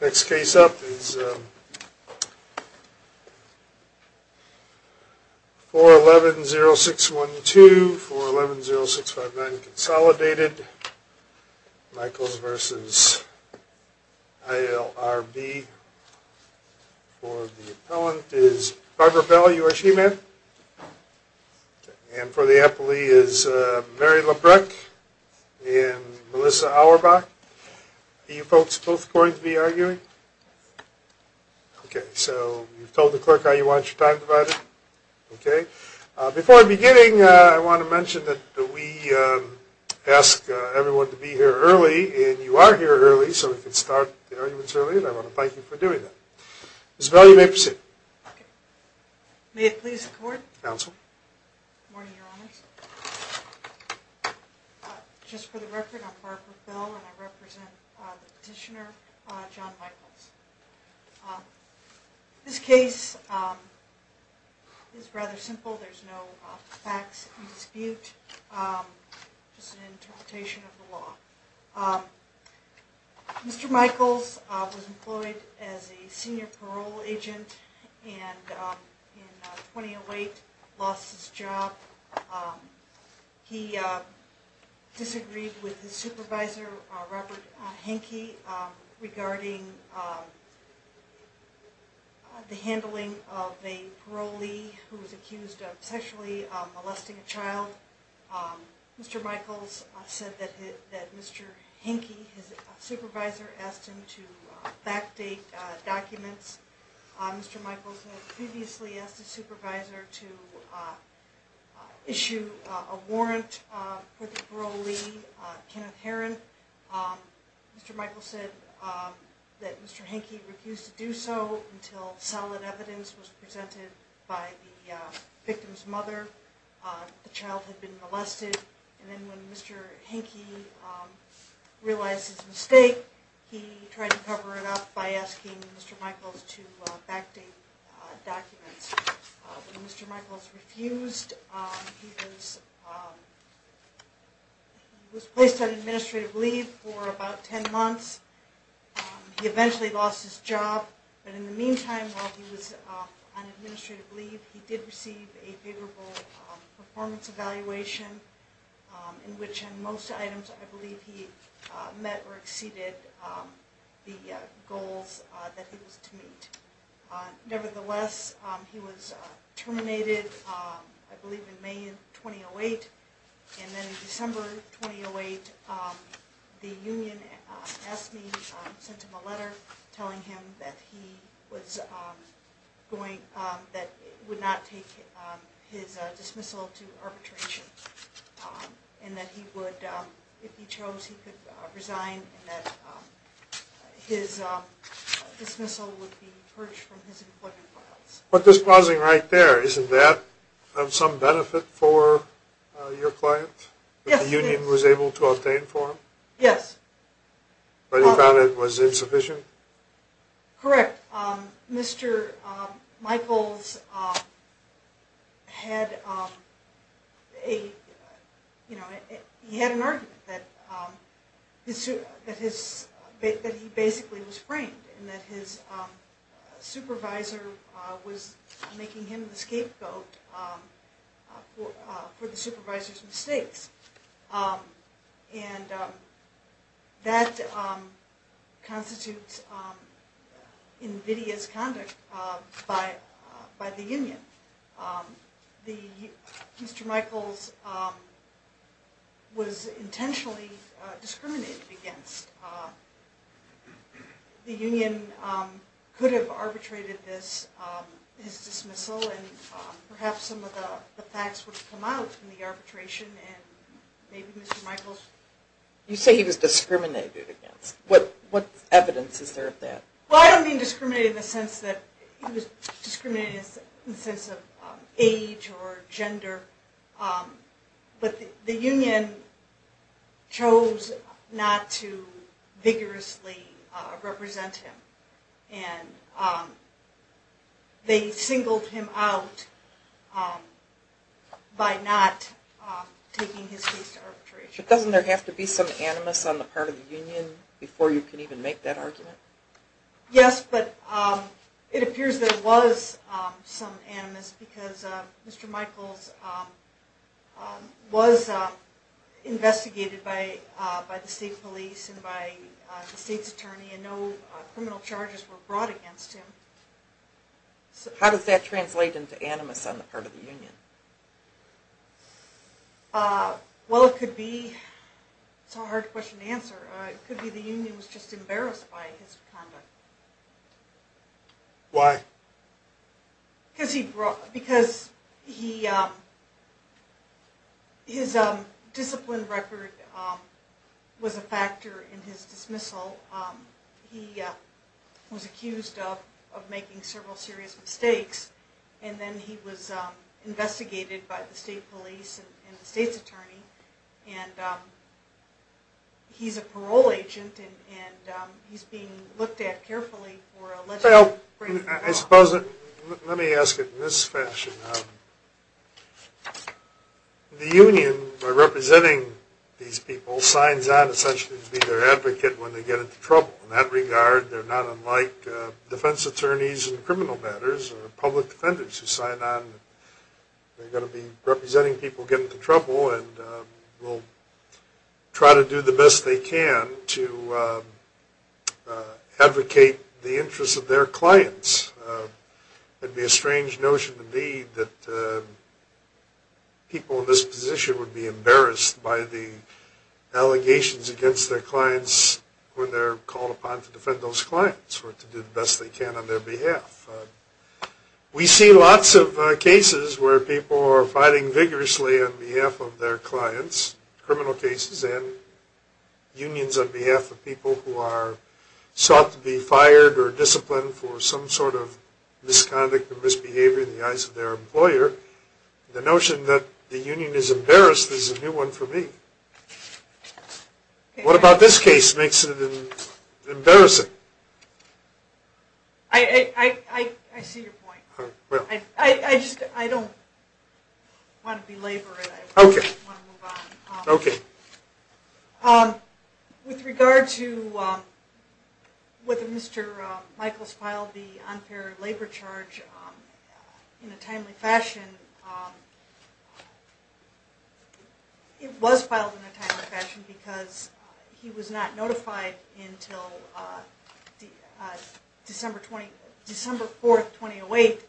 Next case up is 411-0612, 411-0659 Consolidated, Michaels v. ILRB. For the appellant is Barbara Bell, U.S. G-Man. And for the appellee is Mary Labreck and Melissa Auerbach. Are you folks both going to be arguing? Okay, so you've told the clerk how you want your time divided? Okay. Before I begin, I want to mention that we ask everyone to be here early, and you are here early, so we can start the arguments early, and I want to thank you for doing that. Ms. Bell, you may proceed. Okay. May it please the Court. Counsel. Good morning, Your Honors. Just for the record, I'm Barbara Bell, and I represent the petitioner, John Michaels. This case is rather simple. Mr. Michaels was employed as a senior parole agent and in 2008 lost his job. He disagreed with his supervisor, Robert Henke, regarding the handling of a parolee who was accused of sexually molesting a child. Mr. Michaels said that Mr. Henke, his supervisor, asked him to backdate documents. Mr. Michaels had previously asked his supervisor to issue a warrant for the parolee, Kenneth Herron. Mr. Michaels said that Mr. Henke refused to do so until solid evidence was presented by the victim's mother. The child had been molested, and then when Mr. Henke realized his mistake, he tried to cover it up by asking Mr. Michaels to backdate documents. When Mr. Michaels refused, he was placed on administrative leave for about 10 months. He eventually lost his job, but in the meantime, while he was on administrative leave, he did receive a favorable performance evaluation, in which in most items I believe he met or exceeded the goals that he was to meet. Nevertheless, he was terminated, I believe in May 2008, and then in December 2008, the union sent him a letter telling him that he would not take his dismissal to arbitration, and that if he chose, he could resign, and that his dismissal would be purged from his employment files. But this pausing right there, isn't that of some benefit for your client? Yes, it is. That the union was able to obtain for him? Yes. But he found it was insufficient? Correct. Mr. Michaels had an argument that he basically was framed, and that his supervisor was making him the scapegoat for the supervisor's mistakes. And that constitutes invidious conduct by the union. Mr. Michaels was intentionally discriminated against. The union could have arbitrated his dismissal, and perhaps some of the facts would have come out in the arbitration, and maybe Mr. Michaels... You say he was discriminated against. What evidence is there of that? Well, I don't mean discriminated in the sense that he was discriminated against in the sense of age or gender. But the union chose not to vigorously represent him, and they singled him out by not taking his case to arbitration. Doesn't there have to be some animus on the part of the union before you can even make that argument? Yes, but it appears there was some animus, because Mr. Michaels was investigated by the state police and by the state's attorney, and no criminal charges were brought against him. How does that translate into animus on the part of the union? Well, it could be... it's a hard question to answer. It could be the union was just embarrassed by his conduct. Why? Because his discipline record was a factor in his dismissal. He was accused of making several serious mistakes, and then he was investigated by the state police and the state's attorney. And he's a parole agent, and he's being looked at carefully for alleged... Let me ask it in this fashion. The union, by representing these people, signs on essentially to be their advocate when they get into trouble. In that regard, they're not unlike defense attorneys in criminal matters or public defenders who sign on. They're going to be representing people who get into trouble, and will try to do the best they can to advocate the interests of their clients. It would be a strange notion to me that people in this position would be embarrassed by the allegations against their clients when they're called upon to defend those clients, or to do the best they can on their behalf. We see lots of cases where people are fighting vigorously on behalf of their clients, criminal cases, and unions on behalf of people who are sought to be fired or disciplined for some sort of misconduct or misbehavior in the eyes of their employer. The notion that the union is embarrassed is a new one for me. What about this case makes it embarrassing? I see your point. I don't want to belabor it. I want to move on. With regard to whether Mr. Michaels filed the unfair labor charge in a timely fashion, it was filed in a timely fashion because he was not notified until December 4, 2008,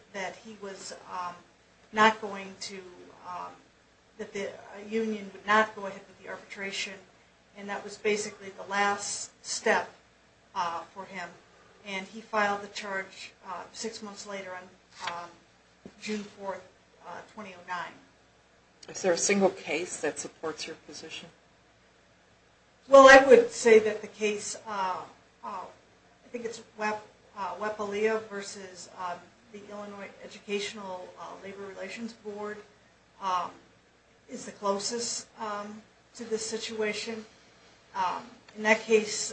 that the union would not go ahead with the arbitration. That was basically the last step for him. He filed the charge six months later on June 4, 2009. Is there a single case that supports your position? Well, I would say that the case, I think it's WEPA-LEA versus the Illinois Educational Labor Relations Board, is the closest to this situation. In that case,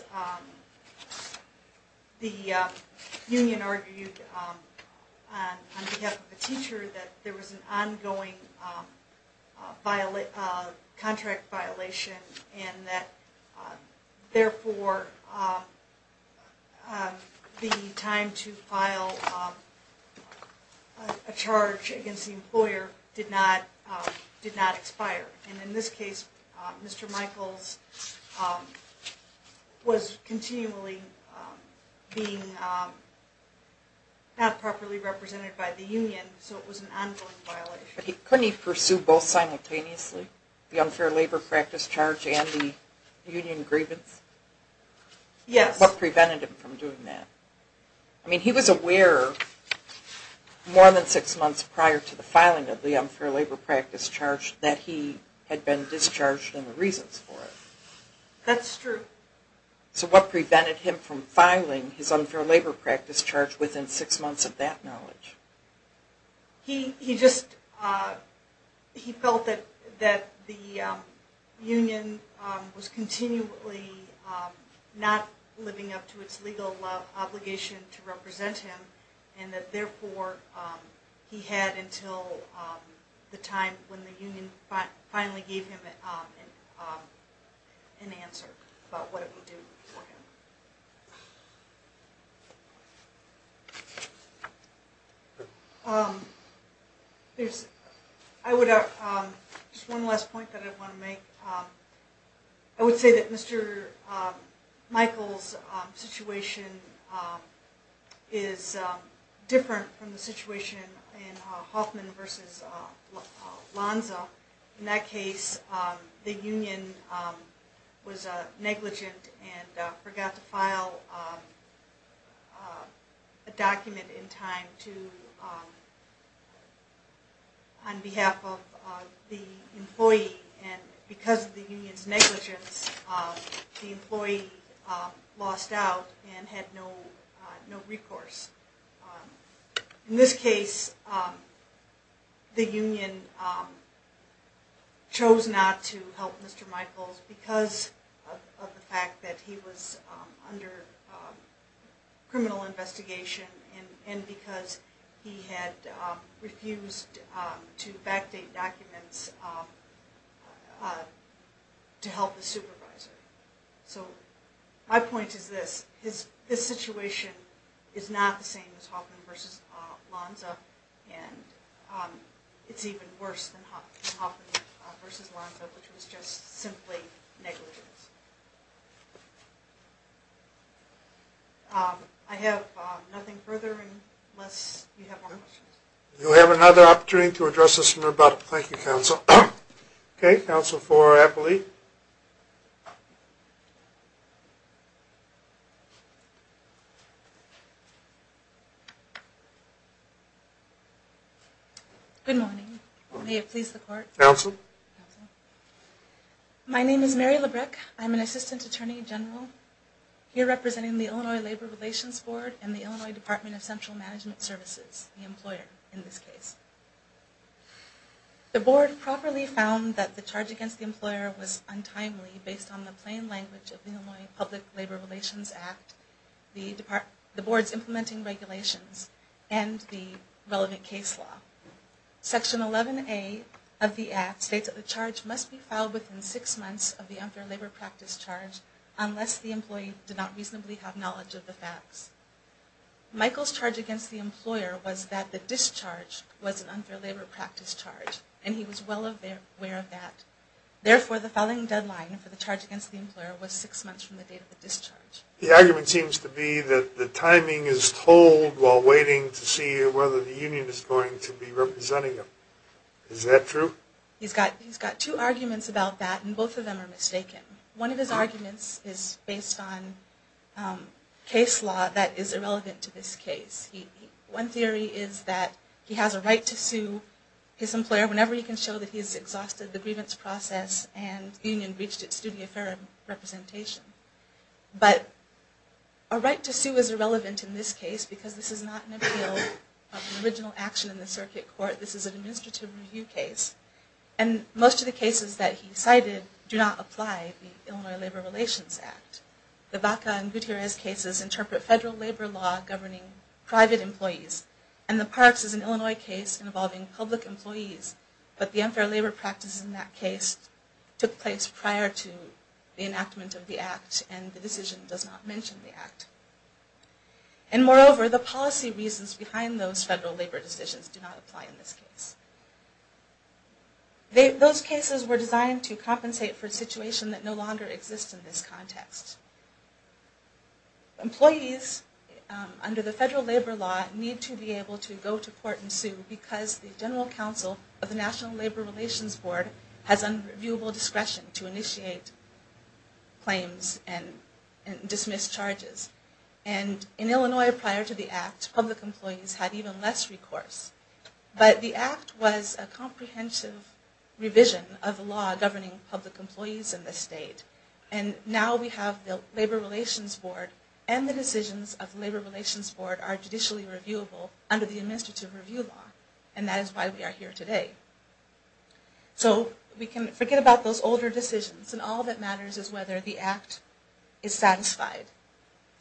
the union argued on behalf of a teacher that there was an ongoing contract violation and that, therefore, the time to file a charge against the employer did not expire. In this case, Mr. Michaels was continually being not properly represented by the union, so it was an ongoing violation. Couldn't he pursue both simultaneously, the unfair labor practice charge and the union grievance? Yes. What prevented him from doing that? I mean, he was aware more than six months prior to the filing of the unfair labor practice charge that he had been discharged and the reasons for it. That's true. So what prevented him from filing his unfair labor practice charge within six months of that knowledge? He just felt that the union was continually not living up to its legal obligation to represent him and that, therefore, he had until the time when the union finally gave him an answer about what it would do for him. There's – I would – just one last point that I want to make. I would say that Mr. Michaels' situation is different from the situation in Hoffman v. Lonza. In that case, the union was negligent and forgot to file a document in time to – on behalf of the employee. And because of the union's negligence, the employee lost out and had no recourse. In this case, the union chose not to help Mr. Michaels because of the fact that he was under criminal investigation and because he had refused to backdate documents to help the supervisor. So my point is this. His situation is not the same as Hoffman v. Lonza, and it's even worse than Hoffman v. Lonza, which was just simply negligence. I have nothing further unless you have more questions. You'll have another opportunity to address us more about it. Thank you, counsel. Okay. Counsel for Appolite. Good morning. May it please the court. Counsel. My name is Mary Labreck. I'm an assistant attorney general here representing the Illinois Labor Relations Board and the Illinois Department of Central Management Services, the employer in this case. The board properly found that the charge against the employer was untimely based on the plain language of the Illinois Public Labor Relations Act, the board's implementing regulations, and the relevant case law. Section 11A of the Act states that the charge must be filed within six months of the unfair labor practice charge unless the employee did not reasonably have knowledge of the facts. Michael's charge against the employer was that the discharge was an unfair labor practice charge, and he was well aware of that. Therefore, the filing deadline for the charge against the employer was six months from the date of the discharge. The argument seems to be that the timing is told while waiting to see whether the union is going to be representing him. Is that true? He's got two arguments about that, and both of them are mistaken. One of his arguments is based on case law that is irrelevant to this case. One theory is that he has a right to sue his employer whenever he can show that he has exhausted the grievance process and the union breached its duty of fair representation. But a right to sue is irrelevant in this case because this is not an appeal of original action in the circuit court. This is an administrative review case, and most of the cases that he cited do not apply the Illinois Labor Relations Act. The Vaca and Gutierrez cases interpret federal labor law governing private employees, and the Parks is an Illinois case involving public employees. But the unfair labor practice in that case took place prior to the enactment of the Act, and the decision does not mention the Act. And moreover, the policy reasons behind those federal labor decisions do not apply in this case. Those cases were designed to compensate for a situation that no longer exists in this context. Employees under the federal labor law need to be able to go to court and sue because the General Counsel of the National Labor Relations Board has unreviewable discretion to initiate claims and dismiss charges. And in Illinois prior to the Act, public employees had even less recourse. But the Act was a comprehensive revision of the law governing public employees in this state. And now we have the Labor Relations Board, and the decisions of the Labor Relations Board are judicially reviewable under the administrative review law. And that is why we are here today. So we can forget about those older decisions, and all that matters is whether the Act is satisfied.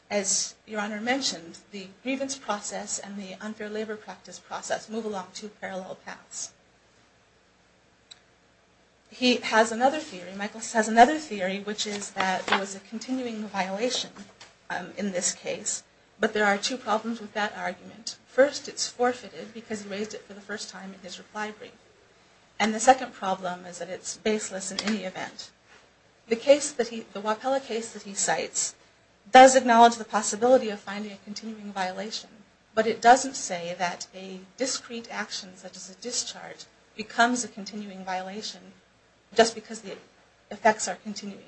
As Your Honor mentioned, the grievance process and the unfair labor practice process move along two parallel paths. He has another theory, Michael has another theory, which is that there was a continuing violation in this case. But there are two problems with that argument. First, it's forfeited because he raised it for the first time in his reply brief. And the second problem is that it's baseless in any event. The Wapella case that he cites does acknowledge the possibility of finding a continuing violation, but it doesn't say that a discreet action such as a discharge becomes a continuing violation just because the effects are continuing.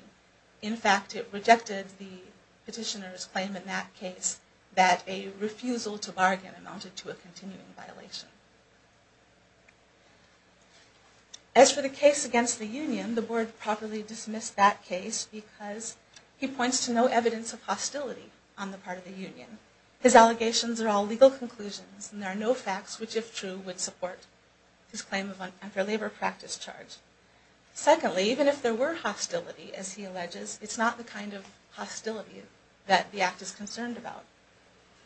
In fact, it rejected the petitioner's claim in that case that a refusal to bargain amounted to a continuing violation. As for the case against the union, the Board properly dismissed that case because he points to no evidence of hostility on the part of the union. His allegations are all legal conclusions, and there are no facts which if true would support his claim of an unfair labor practice charge. Secondly, even if there were hostility, as he alleges, it's not the kind of hostility that the Act is concerned about.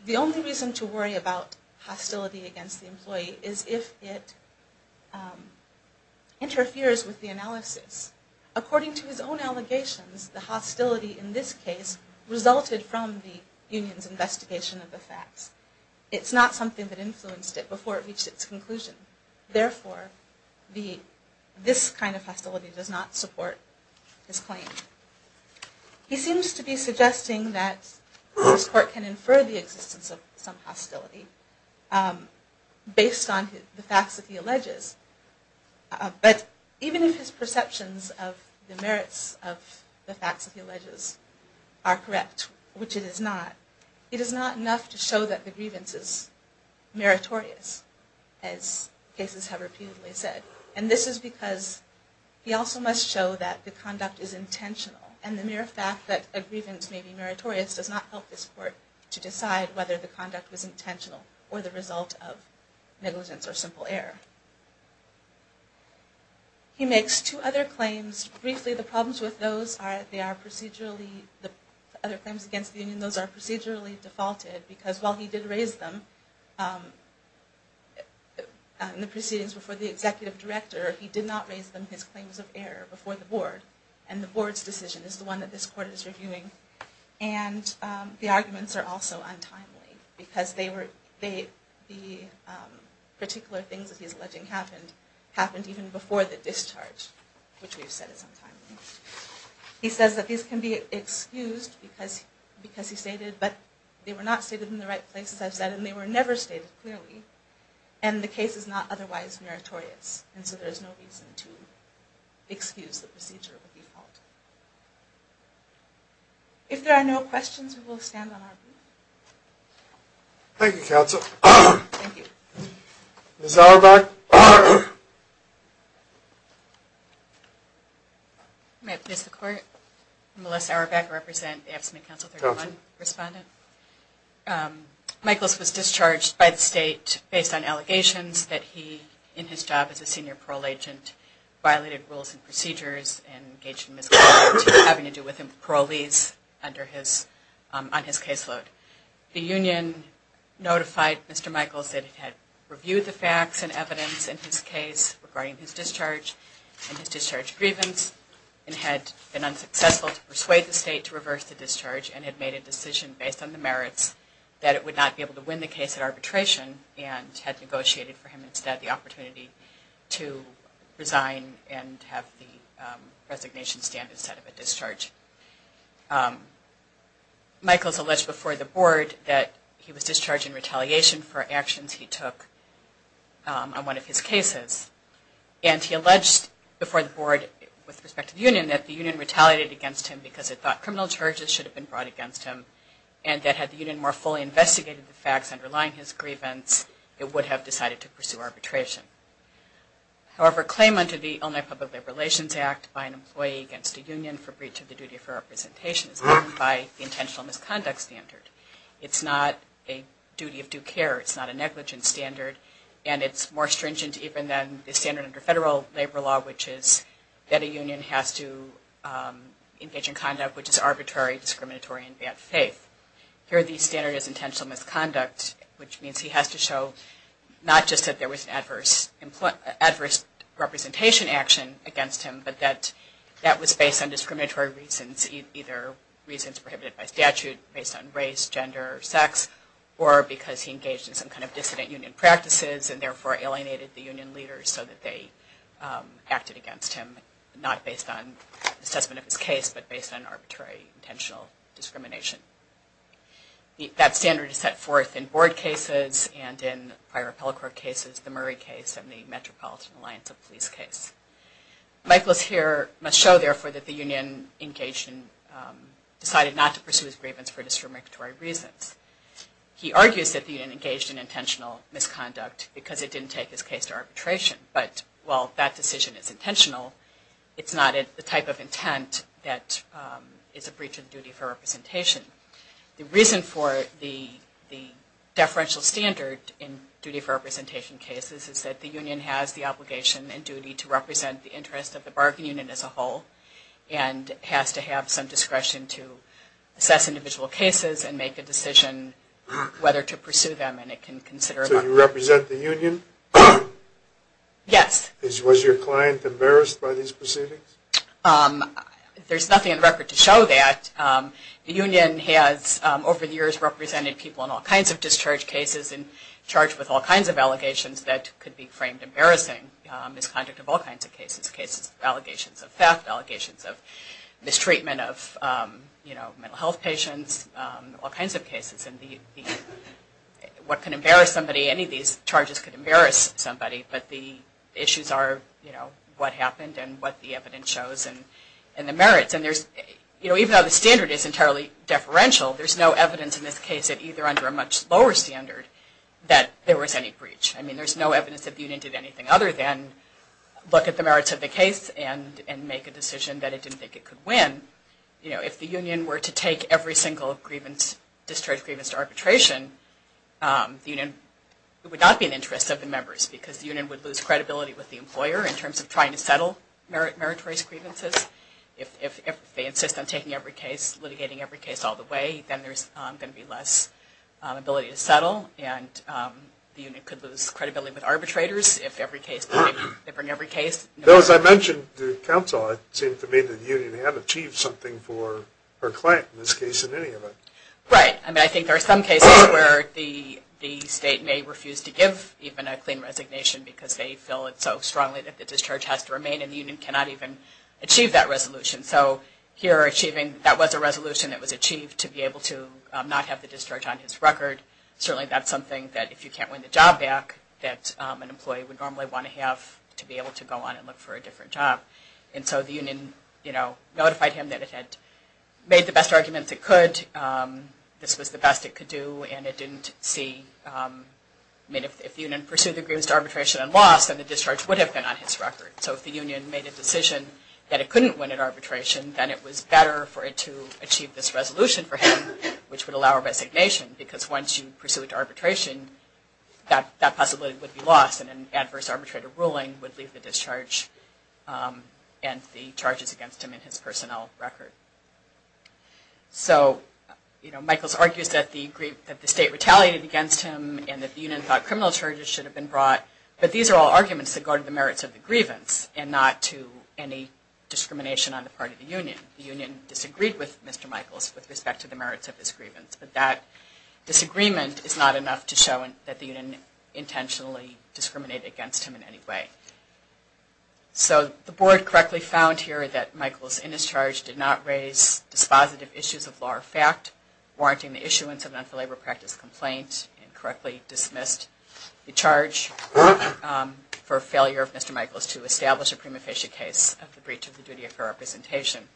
The only reason to worry about hostility against the employee is if it interferes with the analysis. According to his own allegations, the hostility in this case resulted from the union's investigation of the facts. It's not something that influenced it before it reached its conclusion. Therefore, this kind of hostility does not support his claim. He seems to be suggesting that this Court can infer the existence of some hostility based on the facts that he alleges. But even if his perceptions of the merits of the facts that he alleges are correct, which it is not, it is not enough to show that the grievance is meritorious, as cases have repeatedly said. And this is because he also must show that the conduct is intentional, and the mere fact that a grievance may be meritorious does not help this Court to decide whether the conduct was intentional or the result of negligence or simple error. He makes two other claims. Briefly, the problems with those are that they are procedurally, the other claims against the union, those are procedurally defaulted. Because while he did raise them in the proceedings before the Executive Director, he did not raise them in his claims of error before the Board. And the Board's decision is the one that this Court is reviewing. And the arguments are also untimely, because the particular things that he's alleging happened, happened even before the discharge, which we've said is untimely. He says that these can be excused because he stated, but they were not stated in the right place, as I've said, and they were never stated clearly, and the case is not otherwise meritorious. And so there's no reason to excuse the procedure of default. If there are no questions, we will stand on our feet. Thank you, Counsel. Thank you. Ms. Auerbach. May I please the Court? I'm Melissa Auerbach, I represent the Absentee Counsel 31 Respondent. Michaels was discharged by the State based on allegations that he, in his job as a Senior Parole Agent, violated rules and procedures and engaged in misconduct having to do with parolees on his caseload. The Union notified Mr. Michaels that it had reviewed the facts and evidence in his case regarding his discharge and his discharge grievance and had been unsuccessful to persuade the State to reverse the discharge and had made a decision based on the merits that it would not be able to win the case at arbitration and had negotiated for him instead the opportunity to resign and have the resignation stand instead of a discharge. Michaels alleged before the Board that he was discharged in retaliation for actions he took on one of his cases. And he alleged before the Board with respect to the Union that the Union retaliated against him because it thought criminal charges should have been brought against him and that had the Union more fully investigated the facts underlying his grievance, it would have decided to pursue arbitration. However, a claim under the Illinois Public Labor Relations Act by an employee against the Union for breach of the duty of representation is deemed by the intentional misconduct standard. It's not a duty of due care, it's not a negligence standard, and it's more stringent even than the standard under federal labor law which is that a Union has to engage in conduct which is arbitrary, discriminatory, and in bad faith. Here the standard is intentional misconduct, which means he has to show not just that there was adverse representation action against him, but that that was based on discriminatory reasons, either reasons prohibited by statute based on race, gender, or sex, or because he engaged in some kind of dissident Union practices and therefore alienated the Union leaders so that they acted against him, not based on assessment of his case, but based on arbitrary, intentional discrimination. That standard is set forth in board cases and in prior appellate court cases, the Murray case and the Metropolitan Alliance of Police case. Michael's here must show, therefore, that the Union decided not to pursue his grievance for discriminatory reasons. He argues that the Union engaged in intentional misconduct because it didn't take his case to arbitration, but while that decision is intentional, it's not the type of intent that is a breach of duty for representation. The reason for the deferential standard in duty for representation cases is that the Union has the obligation and duty to represent the interest of the bargaining unit as a whole, and has to have some discretion to assess individual cases and make a decision whether to pursue them. So you represent the Union? Yes. Was your client embarrassed by these proceedings? There's nothing in the record to show that. The Union has, over the years, represented people in all kinds of discharge cases and charged with all kinds of allegations that could be framed as embarrassing. Misconduct of all kinds of cases. Cases of allegations of theft, allegations of mistreatment of mental health patients, all kinds of cases. What can embarrass somebody? Any of these charges could embarrass somebody, but the issues are what happened and what the evidence shows and the merits. Even though the standard is entirely deferential, there's no evidence in this case, either under a much lower standard, that there was any breach. There's no evidence that the Union did anything other than look at the merits of the case and make a decision that it didn't think it could win. If the Union were to take every single discharge grievance to arbitration, it would not be in the interest of the members, because the Union would lose credibility with the employer in terms of trying to settle meritorious grievances. If they insist on taking every case, litigating every case all the way, then there's going to be less ability to settle and the Union could lose credibility with arbitrators. As I mentioned to counsel, it seemed to me that the Union had achieved something for her client in this case, in any of it. Right. I think there are some cases where the state may refuse to give even a clean resignation because they feel it so strongly that the discharge has to remain and the Union cannot even achieve that resolution. So here, that was a resolution that was achieved to be able to not have the discharge on his record. Certainly, that's something that if you can't win the job back, that an employee would normally want to have to be able to go on and look for a different job. And so the Union notified him that it had made the best arguments it could, this was the best it could do, and it didn't see... If the Union pursued the grievance to arbitration and lost, then the discharge would have been on his record. So if the Union made a decision that it couldn't win at arbitration, then it was better for it to achieve this resolution for him, which would allow a resignation, because once you pursue it to arbitration, that possibility would be lost and an adverse arbitrator ruling would leave the discharge and the charges against him in his personnel record. So, you know, Michaels argues that the state retaliated against him and that the Union thought criminal charges should have been brought, but these are all arguments that go to the merits of the grievance and not to any discrimination on the part of the Union. The Union disagreed with Mr. Michaels with respect to the merits of his grievance, but that disagreement is not enough to show that the Union intentionally discriminated against him in any way. So the Board correctly found here that Michaels, in his charge, did not raise dispositive issues of law or fact, warranting the issuance of an unfulfilled labor practice complaint, and correctly dismissed the charge for failure of Mr. Michaels to establish a prima facie case of the breach of the duty of fair representation.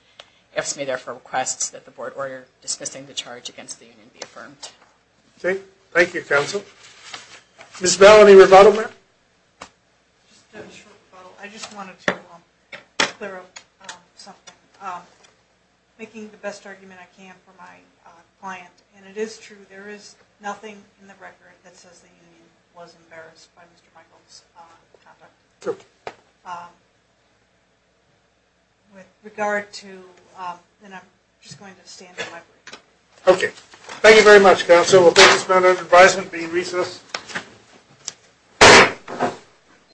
It may, therefore, request that the Board order dismissing the charge against the Union be affirmed. Thank you, Counsel. Ms. Bell, any rebuttal there? I just wanted to clear up something, making the best argument I can for my client. And it is true, there is nothing in the record that says the Union was embarrassed by Mr. Michaels' conduct. Okay. With regard to, and I'm just going to stand in my place. Okay. Thank you very much, Counsel. We'll take this matter into advisement, being recessed.